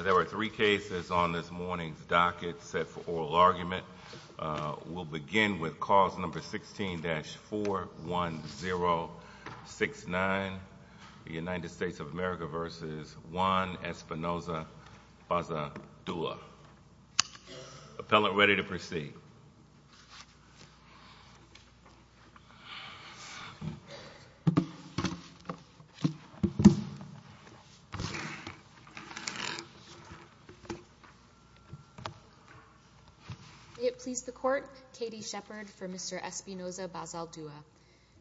There are three cases on this morning's docket set for oral argument. We'll begin with cause number 16-41069, the United States of America v. Juan Espinoza-Bazaldua. Appellant ready to proceed. May it please the court, Katie Shepard for Mr. Espinoza-Bazaldua.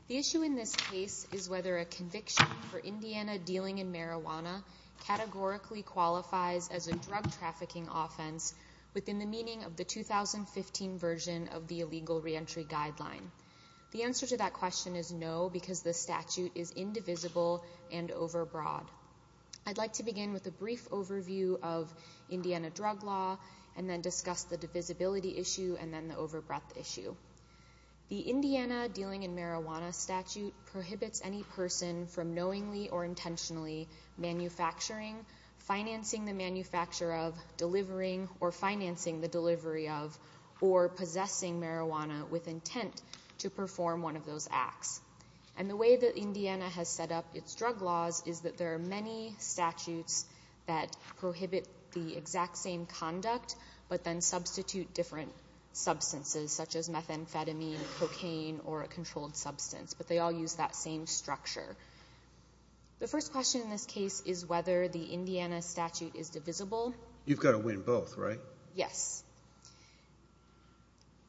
The issue in this case is whether a conviction for Indiana dealing in marijuana categorically qualifies as a drug trafficking offense within the meaning of the 2015 version of the illegal reentry guideline. The answer to that question is no because the statute is indivisible and over broad. I'd like to begin with a brief overview of Indiana drug law and then discuss the divisibility issue and then the over breadth issue. The Indiana dealing in marijuana statute prohibits any person from knowingly or intentionally manufacturing, financing the manufacture of, delivering or financing the delivery of or possessing marijuana with intent to perform one of those acts. And the way that Indiana has set up its drug laws is that there are many statutes that prohibit the exact same conduct but then substitute different substances such as methamphetamine, cocaine or a controlled substance but they all use that same structure. The first question in this case is whether the Indiana statute is divisible. You've got to win both, right? Yes.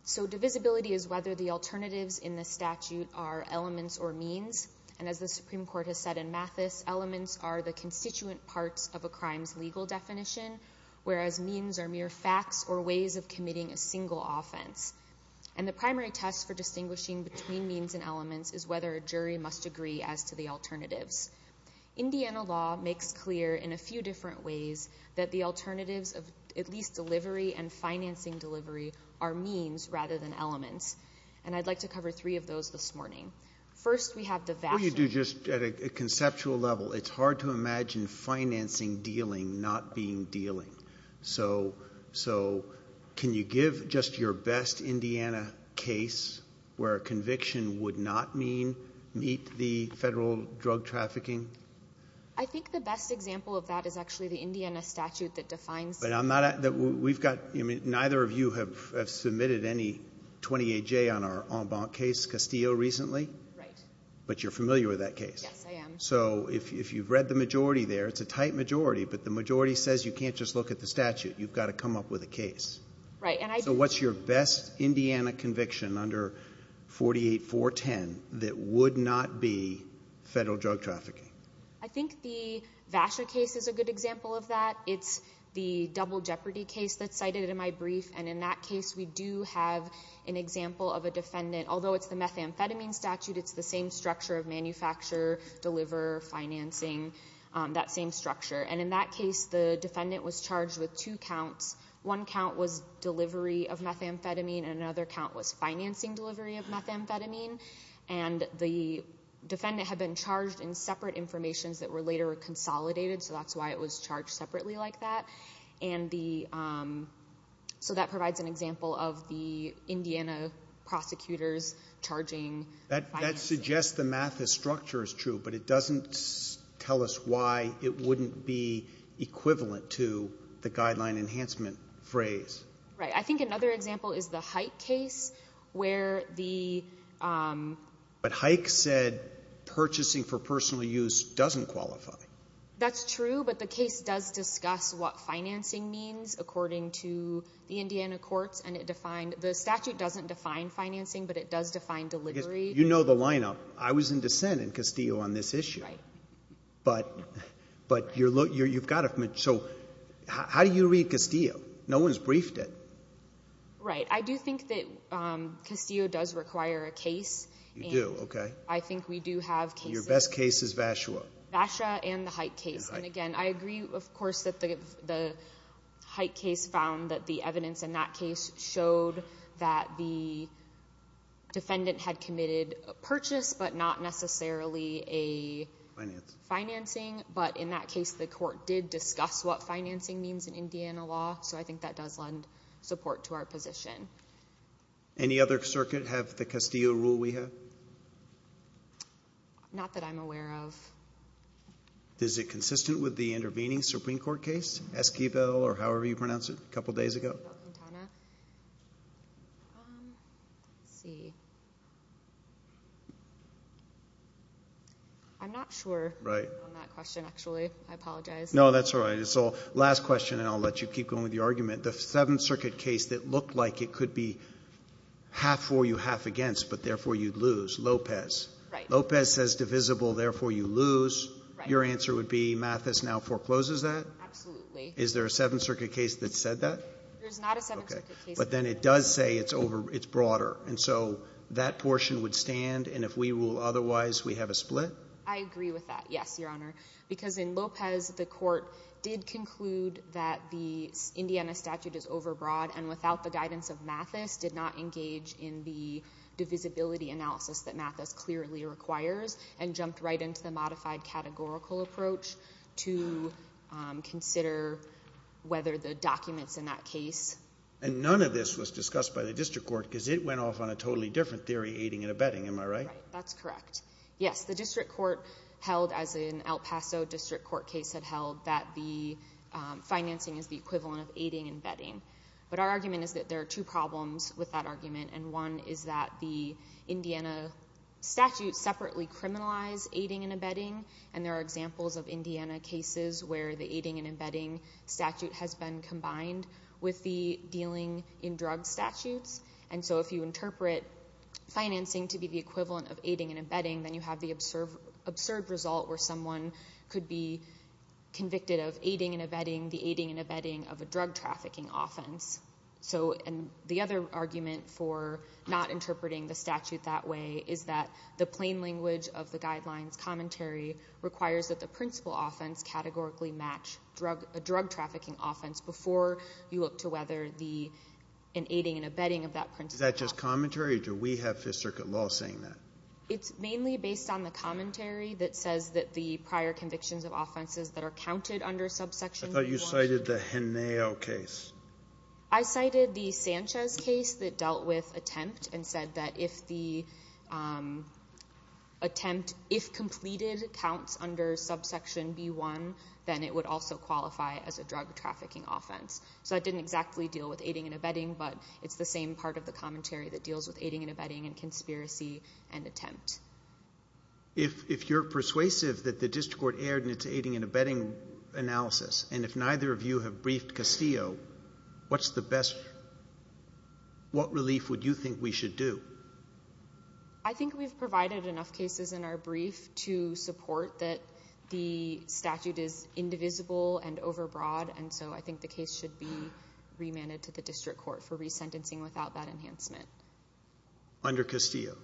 So divisibility is whether the alternatives in the statute are elements or means and as the Supreme Court has said in Mathis, elements are the constituent parts of a crime's legal definition whereas means are mere facts or ways of committing a single offense. And the primary test for distinguishing between means and elements is whether a jury must agree as to the alternatives. Indiana law makes clear in a few different ways that the alternatives of at least delivery and financing delivery are means rather than elements. And I'd like to cover three of those this morning. First we have the vassal. What do you do just at a conceptual level? It's hard to imagine financing dealing not being dealing. So can you give just your best Indiana case where a conviction would not meet the federal drug trafficking? I think the best example of that is actually the Indiana statute that defines. Neither of you have submitted any 28J on our en banc case, Castillo, recently. But you're familiar with that case? Yes, I am. So if you've read the majority there, it's a tight majority, but the majority says you can't just look at the statute. You've got to come up with a case. So what's your best Indiana conviction under 48410 that would not be federal drug trafficking? I think the Vasher case is a good example of that. It's the double jeopardy case that's cited in my brief and in that case we do have an example of a defendant, although it's the methamphetamine statute, it's the same structure of manufacture, deliver, financing, that same structure. And in that case the defendant was charged with two counts. One count was delivery of methamphetamine and another count was financing delivery of methamphetamine. And the defendant had been charged in separate informations that were later consolidated, so that's why it was charged separately like that. So that provides an example that's true, but it doesn't tell us why it wouldn't be equivalent to the guideline enhancement phrase. Right. I think another example is the Hike case where the... But Hike said purchasing for personal use doesn't qualify. That's true, but the case does discuss what financing means according to the Indiana courts and it defined, the statute doesn't define financing, but it does define delivery. You know the lineup. I was in dissent in Castillo on this issue, but you've got it. So how do you read Castillo? No one's briefed it. Right. I do think that Castillo does require a case. You do, okay. I think we do have cases. Your best case is Vashua. Vashua and the Hike case. And again, I agree, of course, that the Hike case found that the evidence in that case showed that the defendant had committed a Financing. Financing, but in that case the court did discuss what financing means in Indiana law. So I think that does lend support to our position. Any other circuit have the Castillo rule we have? Not that I'm aware of. Is it consistent with the intervening Supreme Court case, Esquivel or however you pronounce it, a couple days ago? Let's see. I'm not sure on that question, actually. I apologize. No, that's all right. Last question and I'll let you keep going with your argument. The Seventh Circuit case that looked like it could be half for you, half against, but therefore you'd lose, Lopez. Right. Lopez says divisible, therefore you lose. Your answer would be Mathis now forecloses that? Absolutely. Is there a Seventh Circuit case that said that? There's not a Seventh Circuit case. But then it does say it's broader. And so that portion would stand, and if we rule otherwise, we have a split? I agree with that. Yes, Your Honor. Because in Lopez, the court did conclude that the Indiana statute is overbroad and without the guidance of Mathis did not engage in the divisibility analysis that Mathis clearly requires and jumped right into the modified categorical approach to consider whether the documents in that case. And none of this was discussed by the district court because it went off on a totally different theory aiding and abetting, am I right? That's correct. Yes, the district court held, as an El Paso district court case had held, that the financing is the equivalent of aiding and abetting. But our argument is that there are two problems with that argument. And one is that the Indiana statute separately criminalized aiding and abetting. And there are examples of Indiana cases where the aiding and abetting statute has been combined with the dealing in drugs statutes. And so if you interpret financing to be the equivalent of aiding and abetting, then you have the absurd result where someone could be convicted of aiding and abetting the aiding and abetting of a drug trafficking offense. So the other argument for not interpreting the statute that way is that the plain language of the guidelines commentary requires that the principal offense categorically match a drug trafficking offense before you look to whether the aiding and abetting of that principal offense. Is that just commentary or do we have Fifth Circuit law saying that? It's mainly based on the commentary that says that the prior convictions of offenses that are counted under subsection B1. I thought you cited the Henao case. I cited the Sanchez case that dealt with attempt and said that if the attempt, if completed, counts under subsection B1, then it would also qualify as a drug trafficking offense. So it didn't exactly deal with aiding and abetting, but it's the same part of the commentary that deals with aiding and abetting and conspiracy and attempt. If you're persuasive that the district court erred in its aiding and abetting analysis, and if neither of you have briefed Castillo, what's the best, what relief would you think we should do? I think we've provided enough cases in our brief to support that the statute is indivisible and overbroad, and so I think the case should be remanded to the district court for resentencing without that enhancement. Under Castillo?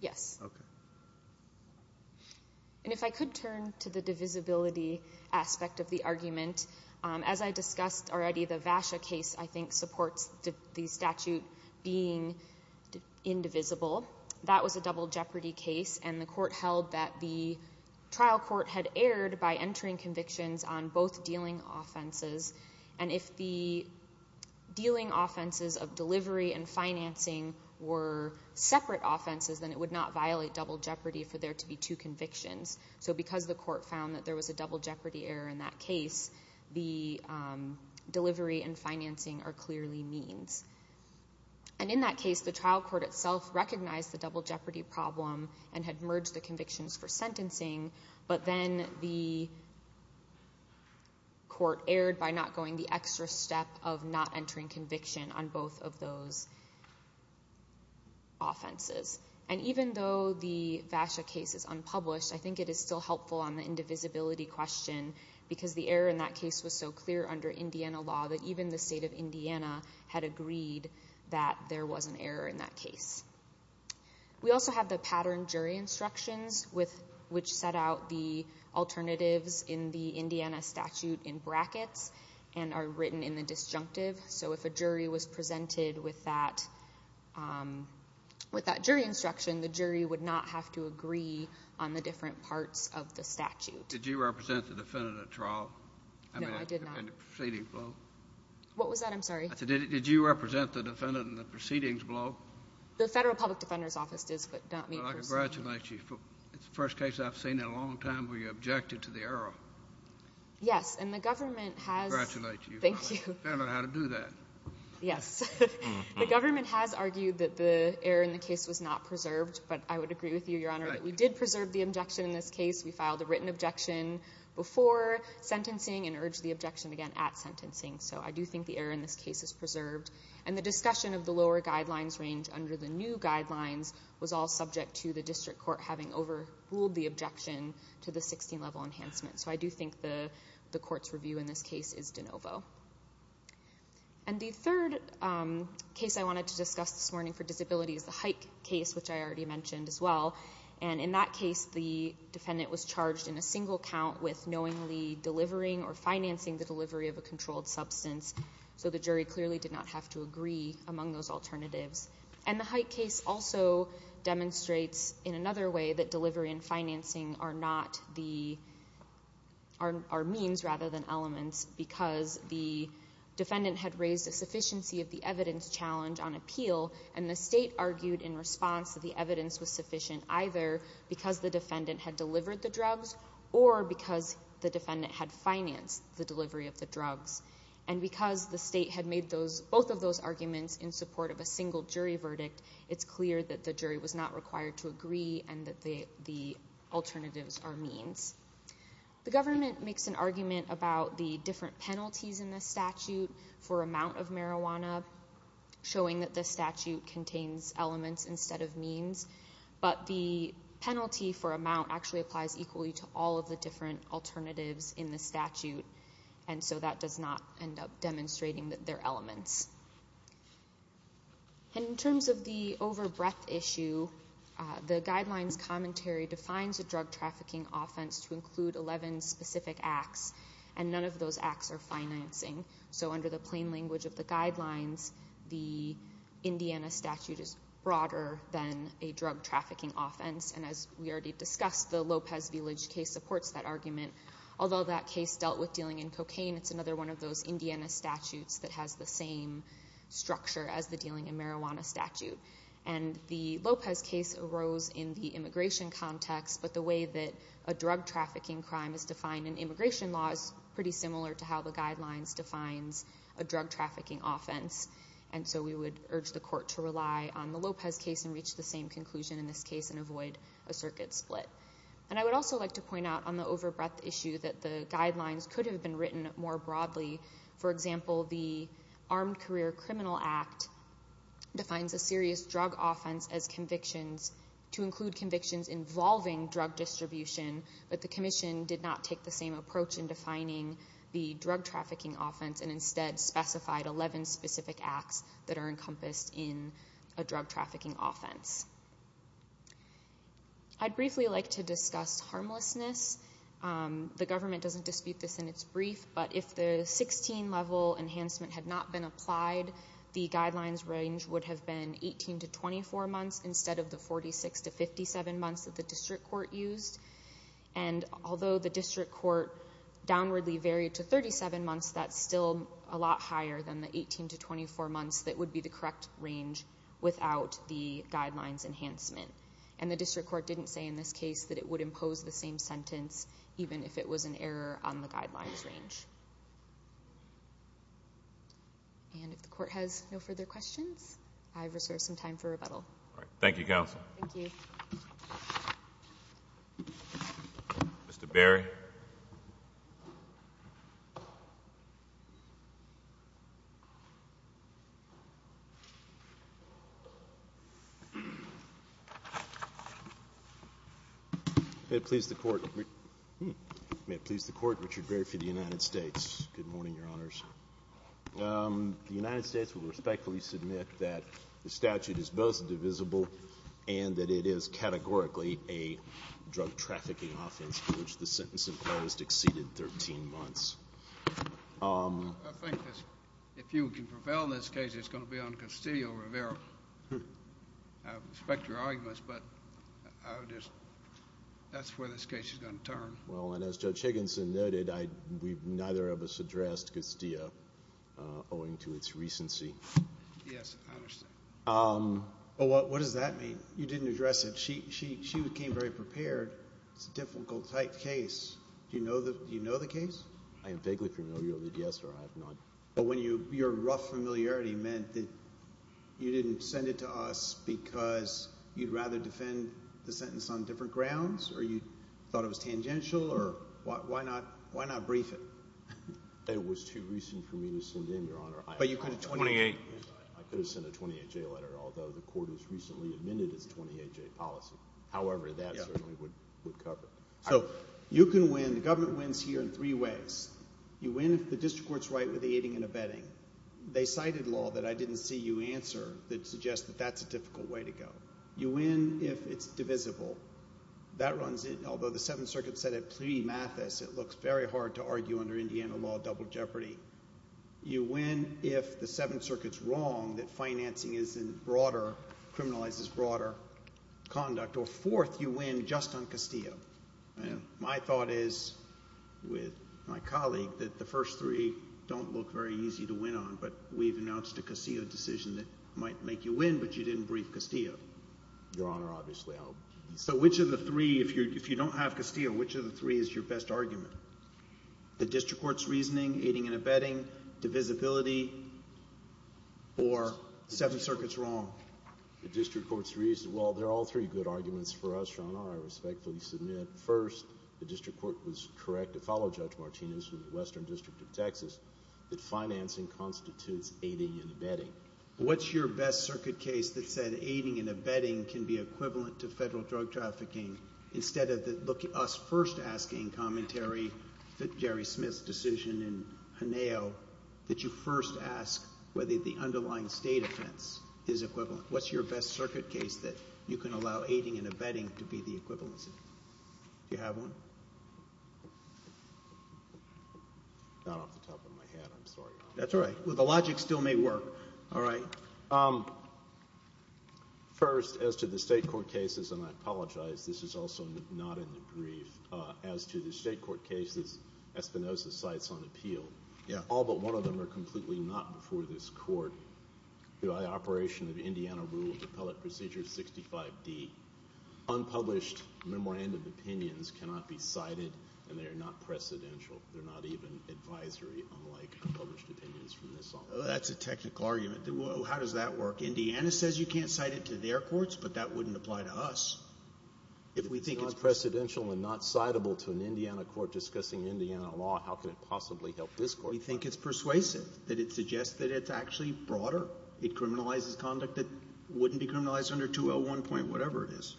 Yes. Okay. And if I could turn to the divisibility aspect of the argument, as I discussed already, the VASHA case I think supports the statute being indivisible. That was a double jeopardy case and the court held that the trial court had erred by entering convictions on both dealing offenses, and if the dealing offenses of delivery and financing were separate offenses, then it would not violate double jeopardy for there to be two convictions. So because the court found that there was a double jeopardy error in that case, the delivery and financing are clearly means. And in that case, the trial court itself recognized the double jeopardy problem and had merged the convictions for sentencing, but then the court erred by not going the extra step of not entering conviction on both of those offenses. And even though the VASHA case is unpublished, I think it is still helpful on the indivisibility question because the error in that case was so clear under Indiana law that even the state of Indiana had agreed that there was an error in that case. We also have the pattern jury instructions, which set out the alternatives in the Indiana statute in brackets and are written in the disjunctive. So if a jury was presented with that jury instruction, the jury would not have to agree on the different parts of the statute. Did you represent the defendant at trial? No, I did not. What was that? I'm sorry. I said, did you represent the defendant in the proceedings below? The Federal Public Defender's Office does, but not me personally. Well, I congratulate you. It's the first case I've seen in a long time where you objected to the error. Yes, and the government has— Congratulate you. Thank you. Found out how to do that. Yes. The government has argued that the error in the case was not preserved, but I would agree with you, Your Honor, that we did preserve the objection in this case. We filed a written objection before sentencing and urged the objection again at sentencing. So I do think the error in this case is preserved. And the discussion of the lower guidelines range under the new guidelines was all subject to the district court having overruled the objection to the 16-level enhancement. So I do think the court's review in this case is de novo. And the third case I wanted to discuss this morning for disability is the Hike case, which I already mentioned as well. And in that case, the defendant was charged in a single count with knowingly delivering or financing the delivery of a controlled substance. So the jury clearly did not have to agree among those alternatives. And the Hike case also demonstrates in another way that delivery and financing are not the—are means rather than elements because the defendant had raised a sufficiency of the evidence challenge on appeal, and the state argued in response that the evidence was sufficient either because the defendant had delivered the drugs or because the defendant had financed the delivery of the drugs. And because the state had made both of those arguments in support of a single jury verdict, it's clear that the jury was not required to agree and that the alternatives are means. The government makes an argument about the different penalties in this statute for amount of marijuana, showing that this statute contains elements instead of means. But the penalty for amount actually applies equally to all of the different alternatives in the statute, and so that does not end up demonstrating that they're elements. In terms of the overbreadth issue, the guidelines commentary defines a drug trafficking offense to include 11 specific acts, and none of those acts are financing. So under the plain language of the guidelines, the Indiana statute is broader than a drug trafficking offense. And as we already discussed, the Lopez Village case supports that argument. Although that case dealt with dealing in cocaine, it's another one of those Indiana statutes that has the same structure as the dealing in marijuana statute. And the Lopez case arose in the immigration context, but the way that a drug trafficking crime is defined in immigration law is pretty similar to how the guidelines defines a drug trafficking offense. And so we would urge the court to rely on the Lopez case and reach the same conclusion in this case and avoid a circuit split. And I would also like to point out on the overbreadth issue that the guidelines could have been written more broadly. For example, the Armed Career Criminal Act defines a serious drug offense as convictions to include convictions involving drug distribution, but the commission did not take the same approach in defining the drug trafficking offense and instead specified 11 specific acts that are encompassed in a drug trafficking offense. I'd briefly like to discuss harmlessness. The government doesn't dispute this in its brief, but if the 16 level enhancement had not been applied, the guidelines range would have been 18 to 24 months instead of the 46 to 57 months that the district court used. And although the district court downwardly varied to 37 months, that's still a lot higher than the 18 to 24 months that would be the correct range without the guidelines enhancement. And the district court didn't say in this case that it would impose the same sentence even if it was an error on the guidelines range. And if the court has no further questions, I have reserved some time for rebuttal. Thank you, counsel. Thank you. Mr. Berry. May it please the court, Richard Berry for the United States. Good morning, your honors. The United States will respectfully submit that the statute is both divisible and that it is categorically a drug trafficking offense for which the sentence imposed exceeded 13 months. I think if you can prevail in this case, it's going to be on Castillo-Rivera. I respect your arguments, but that's where this case is going to turn. Well, and as Judge Higginson noted, neither of us addressed Castillo owing to its recency. Yes, I understand. What does that mean? You didn't address it. She became very prepared. It's a difficult type case. Do you know the case? I am vaguely familiar with it, yes, your honor. But your rough familiarity meant that you didn't send it to us because you'd rather defend the sentence on different grounds or you thought it was tangential or why not brief it? It was too recent for me to send in, your honor. But you could have sent a 28. I could have sent a 28-J letter, although the court has recently amended its 28-J policy. However, that certainly would cover it. So you can win. The government wins here in three ways. You win if the district court is right with the aiding and abetting. They cited law that I didn't see you answer that suggests that that's a difficult way to go. You win if it's divisible. That runs in, although the Seventh Circuit said it pre-Mathis, it looks very hard to argue under Indiana law double jeopardy. You win if the Seventh Circuit's wrong, that financing is in broader, criminalizes broader conduct. Or fourth, you win just on Castillo. My thought is, with my colleague, that the first three don't look very easy to win on. But we've announced a Castillo decision that might make you win, but you didn't brief Castillo. Your honor, obviously I'll. So which of the three, if you don't have Castillo, which of the three is your best argument? The district court's reasoning, aiding and abetting, divisibility, or the Seventh Circuit's wrong? The district court's reason—well, there are all three good arguments for us, your honor. I respectfully submit, first, the district court was correct to follow Judge Martinez from the Western District of Texas, that financing constitutes aiding and abetting. What's your best circuit case that said aiding and abetting can be equivalent to federal drug trafficking instead of us first asking commentary, Jerry Smith's decision in Haneo, that you first ask whether the underlying state offense is equivalent? What's your best circuit case that you can allow aiding and abetting to be the equivalent? Do you have one? Not off the top of my head, I'm sorry. That's all right. Well, the logic still may work. All right. First, as to the state court cases, and I apologize, this is also not in the brief. As to the state court cases, Espinoza cites on appeal. All but one of them are completely not before this court. By operation of Indiana Rule of Appellate Procedure 65D, unpublished memorandum opinions cannot be cited, and they are not precedential. They're not even advisory, unlike published opinions from this office. That's a technical argument. How does that work? Indiana says you can't cite it to their courts, but that wouldn't apply to us. If we think it's not precedential and not citable to an Indiana court discussing Indiana law, how can it possibly help this court? We think it's persuasive, that it suggests that it's actually broader. It criminalizes conduct that wouldn't be criminalized under 201. whatever it is.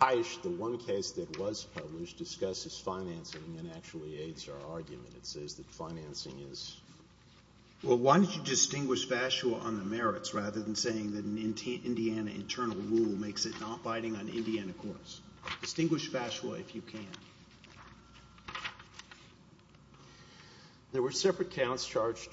Heisch, the one case that was published, discusses financing and actually aids our argument. It says that financing is... Well, why don't you distinguish FASWA on the merits, rather than saying that an Indiana internal rule makes it not binding on Indiana courts? Distinguish FASWA if you can. There were separate counts charged,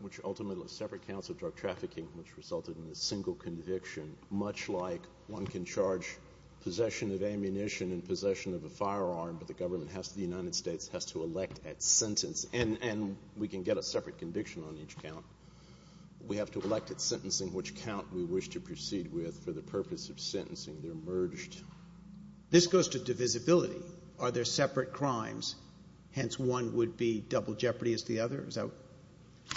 which ultimately were separate counts of drug trafficking, which resulted in a single conviction, much like one can charge possession of ammunition and possession of a firearm, but the government has to, the United States has to elect at sentence, and we can get a separate conviction on each count. We have to elect at sentencing which count we wish to proceed with for the purpose of sentencing. They're merged. This goes to divisibility. Are there separate crimes, hence one would be double jeopardy as the other?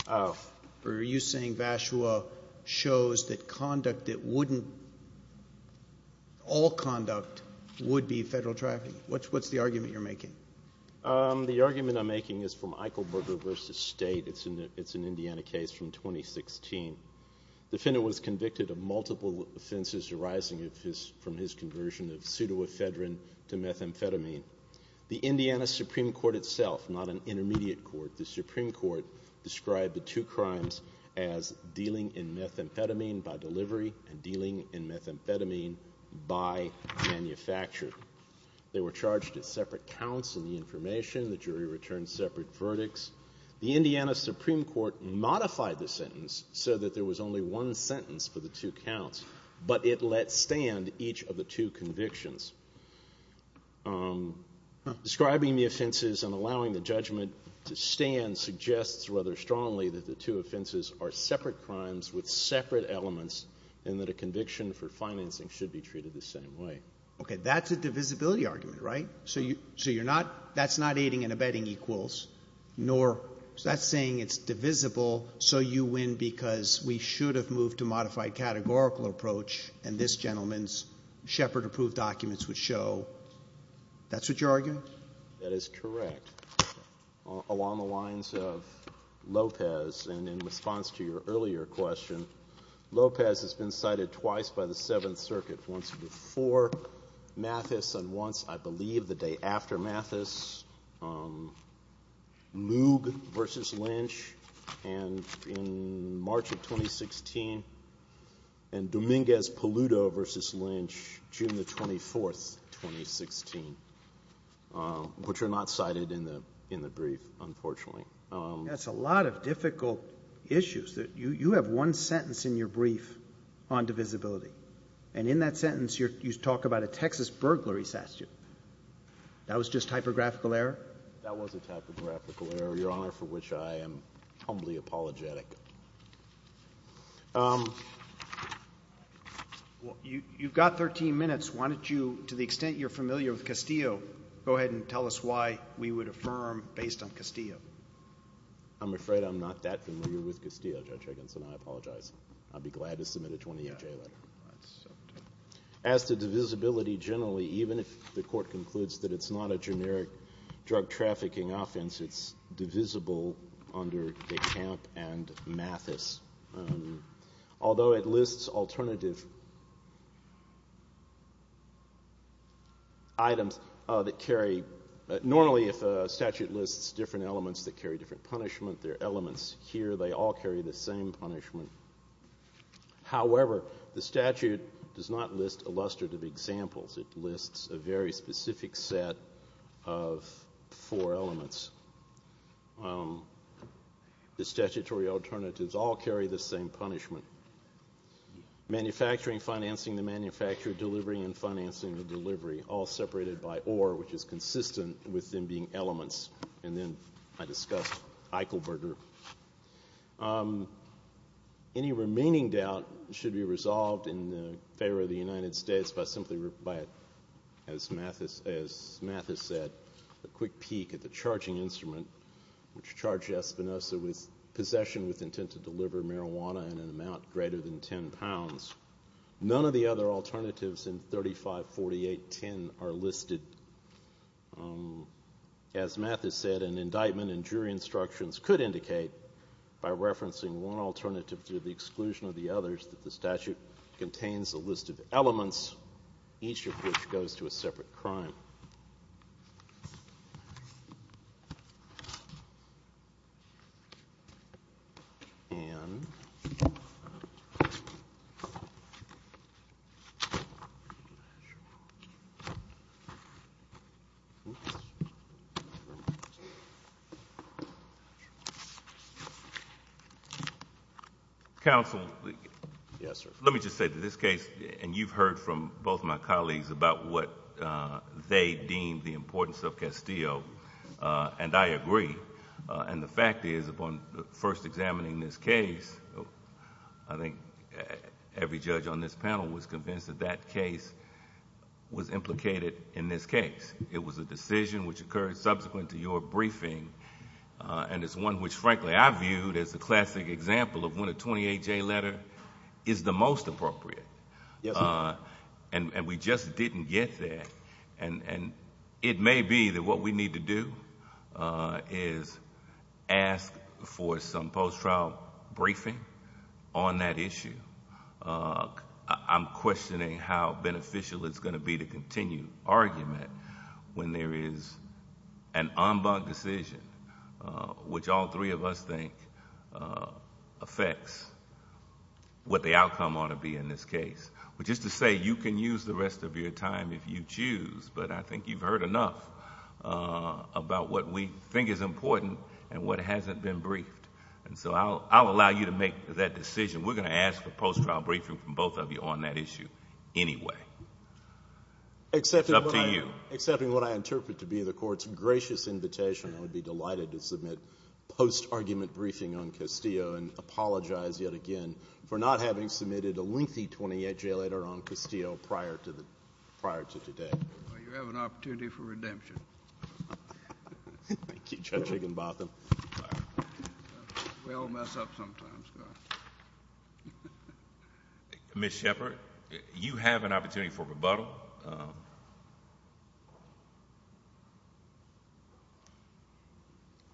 Are you saying FASWA shows that conduct that wouldn't, all conduct, would be federal trafficking? What's the argument you're making? The argument I'm making is from Eichelberger v. State. It's an Indiana case from 2016. The defendant was convicted of multiple offenses arising from his conversion of pseudoephedrine to methamphetamine. The Indiana Supreme Court itself, not an intermediate court, the Supreme Court described the two crimes as dealing in methamphetamine by delivery and dealing in methamphetamine by manufacture. They were charged at separate counts in the information. The jury returned separate verdicts. The Indiana Supreme Court modified the sentence so that there was only one sentence for the two counts, but it let stand each of the two convictions. Describing the offenses and allowing the judgment to stand suggests rather strongly that the two offenses are separate crimes with separate elements and that a conviction for financing should be treated the same way. Okay, that's a divisibility argument, right? So you're not, that's not aiding and abetting equals, nor is that saying it's divisible, so you win because we should have moved to modified categorical approach and this gentleman's Shepard-approved documents would show. That's what you're arguing? That is correct. Along the lines of Lopez and in response to your earlier question, Lopez has been cited twice by the Seventh Circuit. Once before Mathis and once, I believe, the day after Mathis. Moog v. Lynch in March of 2016 and Dominguez-Paluto v. Lynch, June the 24th, 2016, which are not cited in the brief, unfortunately. That's a lot of difficult issues. You have one sentence in your brief on divisibility, and in that sentence you talk about a Texas burglary statute. That was just typographical error? That was a typographical error, Your Honor, for which I am humbly apologetic. You've got 13 minutes. Why don't you, to the extent you're familiar with Castillo, go ahead and tell us why we would affirm based on Castillo. I'm afraid I'm not that familiar with Castillo, Judge Higginson. I apologize. I'd be glad to submit a 28-J letter. As to divisibility generally, even if the Court concludes that it's not a generic drug trafficking offense, it's divisible under DeCamp and Mathis. Although it lists alternative items that carry, normally if a statute lists different elements that carry different punishment, their elements here, they all carry the same punishment. However, the statute does not list illustrative examples. It lists a very specific set of four elements. The statutory alternatives all carry the same punishment. Manufacturing, financing the manufacture, delivering and financing the delivery, all separated by or, which is consistent with them being elements. And then I discussed Eichelberger. Any remaining doubt should be resolved in favor of the United States by simply, as Mathis said, a quick peek at the charging instrument, which charged Espinosa with possession with intent to deliver marijuana in an amount greater than 10 pounds. None of the other alternatives in 3548.10 are listed. As Mathis said, an indictment and jury instructions could indicate, by referencing one alternative to the exclusion of the others, that the statute contains a list of elements, each of which goes to a separate crime. And... Counsel. Yes, sir. Let me just say that this case, and you've heard from both my colleagues about what they deem the importance of Castillo, and I agree. And the fact is, upon first examining this case, I think every judge on this panel was convinced that that case was implicated in this case. It was a decision which occurred subsequent to your briefing, and it's one which, frankly, I viewed as a classic example of when a 28-J letter is the most appropriate. And we just didn't get there. And it may be that what we need to do is ask for some post-trial briefing on that issue. I'm questioning how beneficial it's going to be to continue argument when there is an en banc decision which all three of us think affects what the outcome ought to be in this case. Which is to say, you can use the rest of your time if you choose, but I think you've heard enough about what we think is important and what hasn't been briefed. And so I'll allow you to make that decision. We're going to ask for post-trial briefing from both of you on that issue anyway. It's up to you. Except in what I interpret to be the Court's gracious invitation, I would be delighted to submit post-argument briefing on Castillo and apologize yet again for not having submitted a lengthy 28-J letter on Castillo prior to today. You have an opportunity for redemption. Thank you, Judge Higginbotham. We all mess up sometimes. Ms. Shepard, you have an opportunity for rebuttal.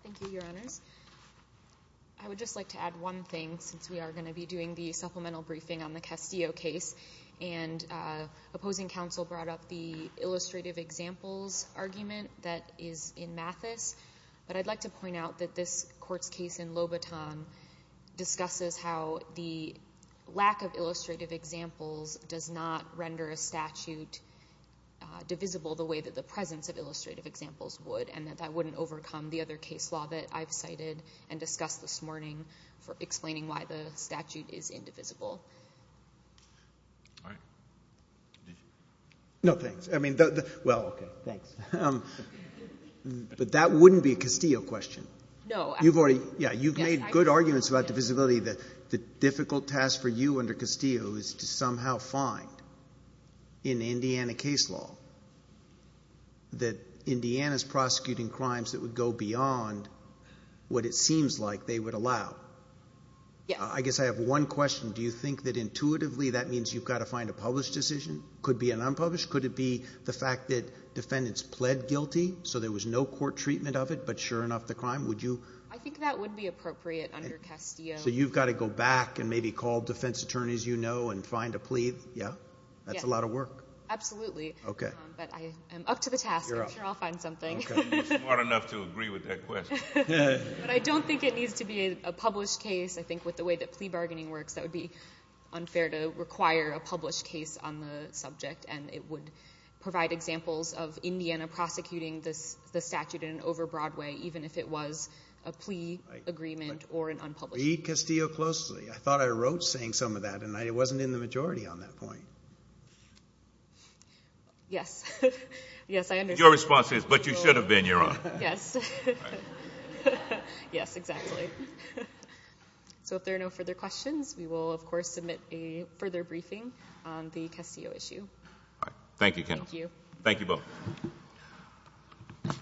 Thank you, Your Honors. I would just like to add one thing since we are going to be doing the supplemental briefing on the Castillo case. And opposing counsel brought up the illustrative examples argument that is in Mathis, but I'd like to point out that this Court's case in Lobaton discusses how the lack of illustrative examples does not render a statute divisible the way that the presence of illustrative examples would, and that that wouldn't overcome the other case law that I've cited and discussed this morning for explaining why the statute is indivisible. All right. No, thanks. I mean, well, thanks. But that wouldn't be a Castillo question. No. You've made good arguments about divisibility. The difficult task for you under Castillo is to somehow find in Indiana case law that Indiana is prosecuting crimes that would go beyond what it seems like they would allow. I guess I have one question. Do you think that intuitively that means you've got to find a published decision? Could it be an unpublished? Could it be the fact that defendants pled guilty so there was no court treatment of it, but sure enough the crime? Would you? I think that would be appropriate under Castillo. So you've got to go back and maybe call defense attorneys you know and find a plea? Yeah? Yeah. That's a lot of work. Absolutely. Okay. But I am up to the task. You're up. I'm sure I'll find something. Okay. You're smart enough to agree with that question. But I don't think it needs to be a published case. I think with the way that plea bargaining works that would be unfair to require a published case on the subject, and it would provide examples of a plea agreement or an unpublished case. Read Castillo closely. I thought I wrote saying some of that, and it wasn't in the majority on that point. Yes. Yes, I understand. Your response is, but you should have been, Your Honor. Yes. Yes, exactly. So if there are no further questions, we will of course submit a further briefing on the Castillo issue. All right. Thank you, Kendall. Thank you. Thank you both.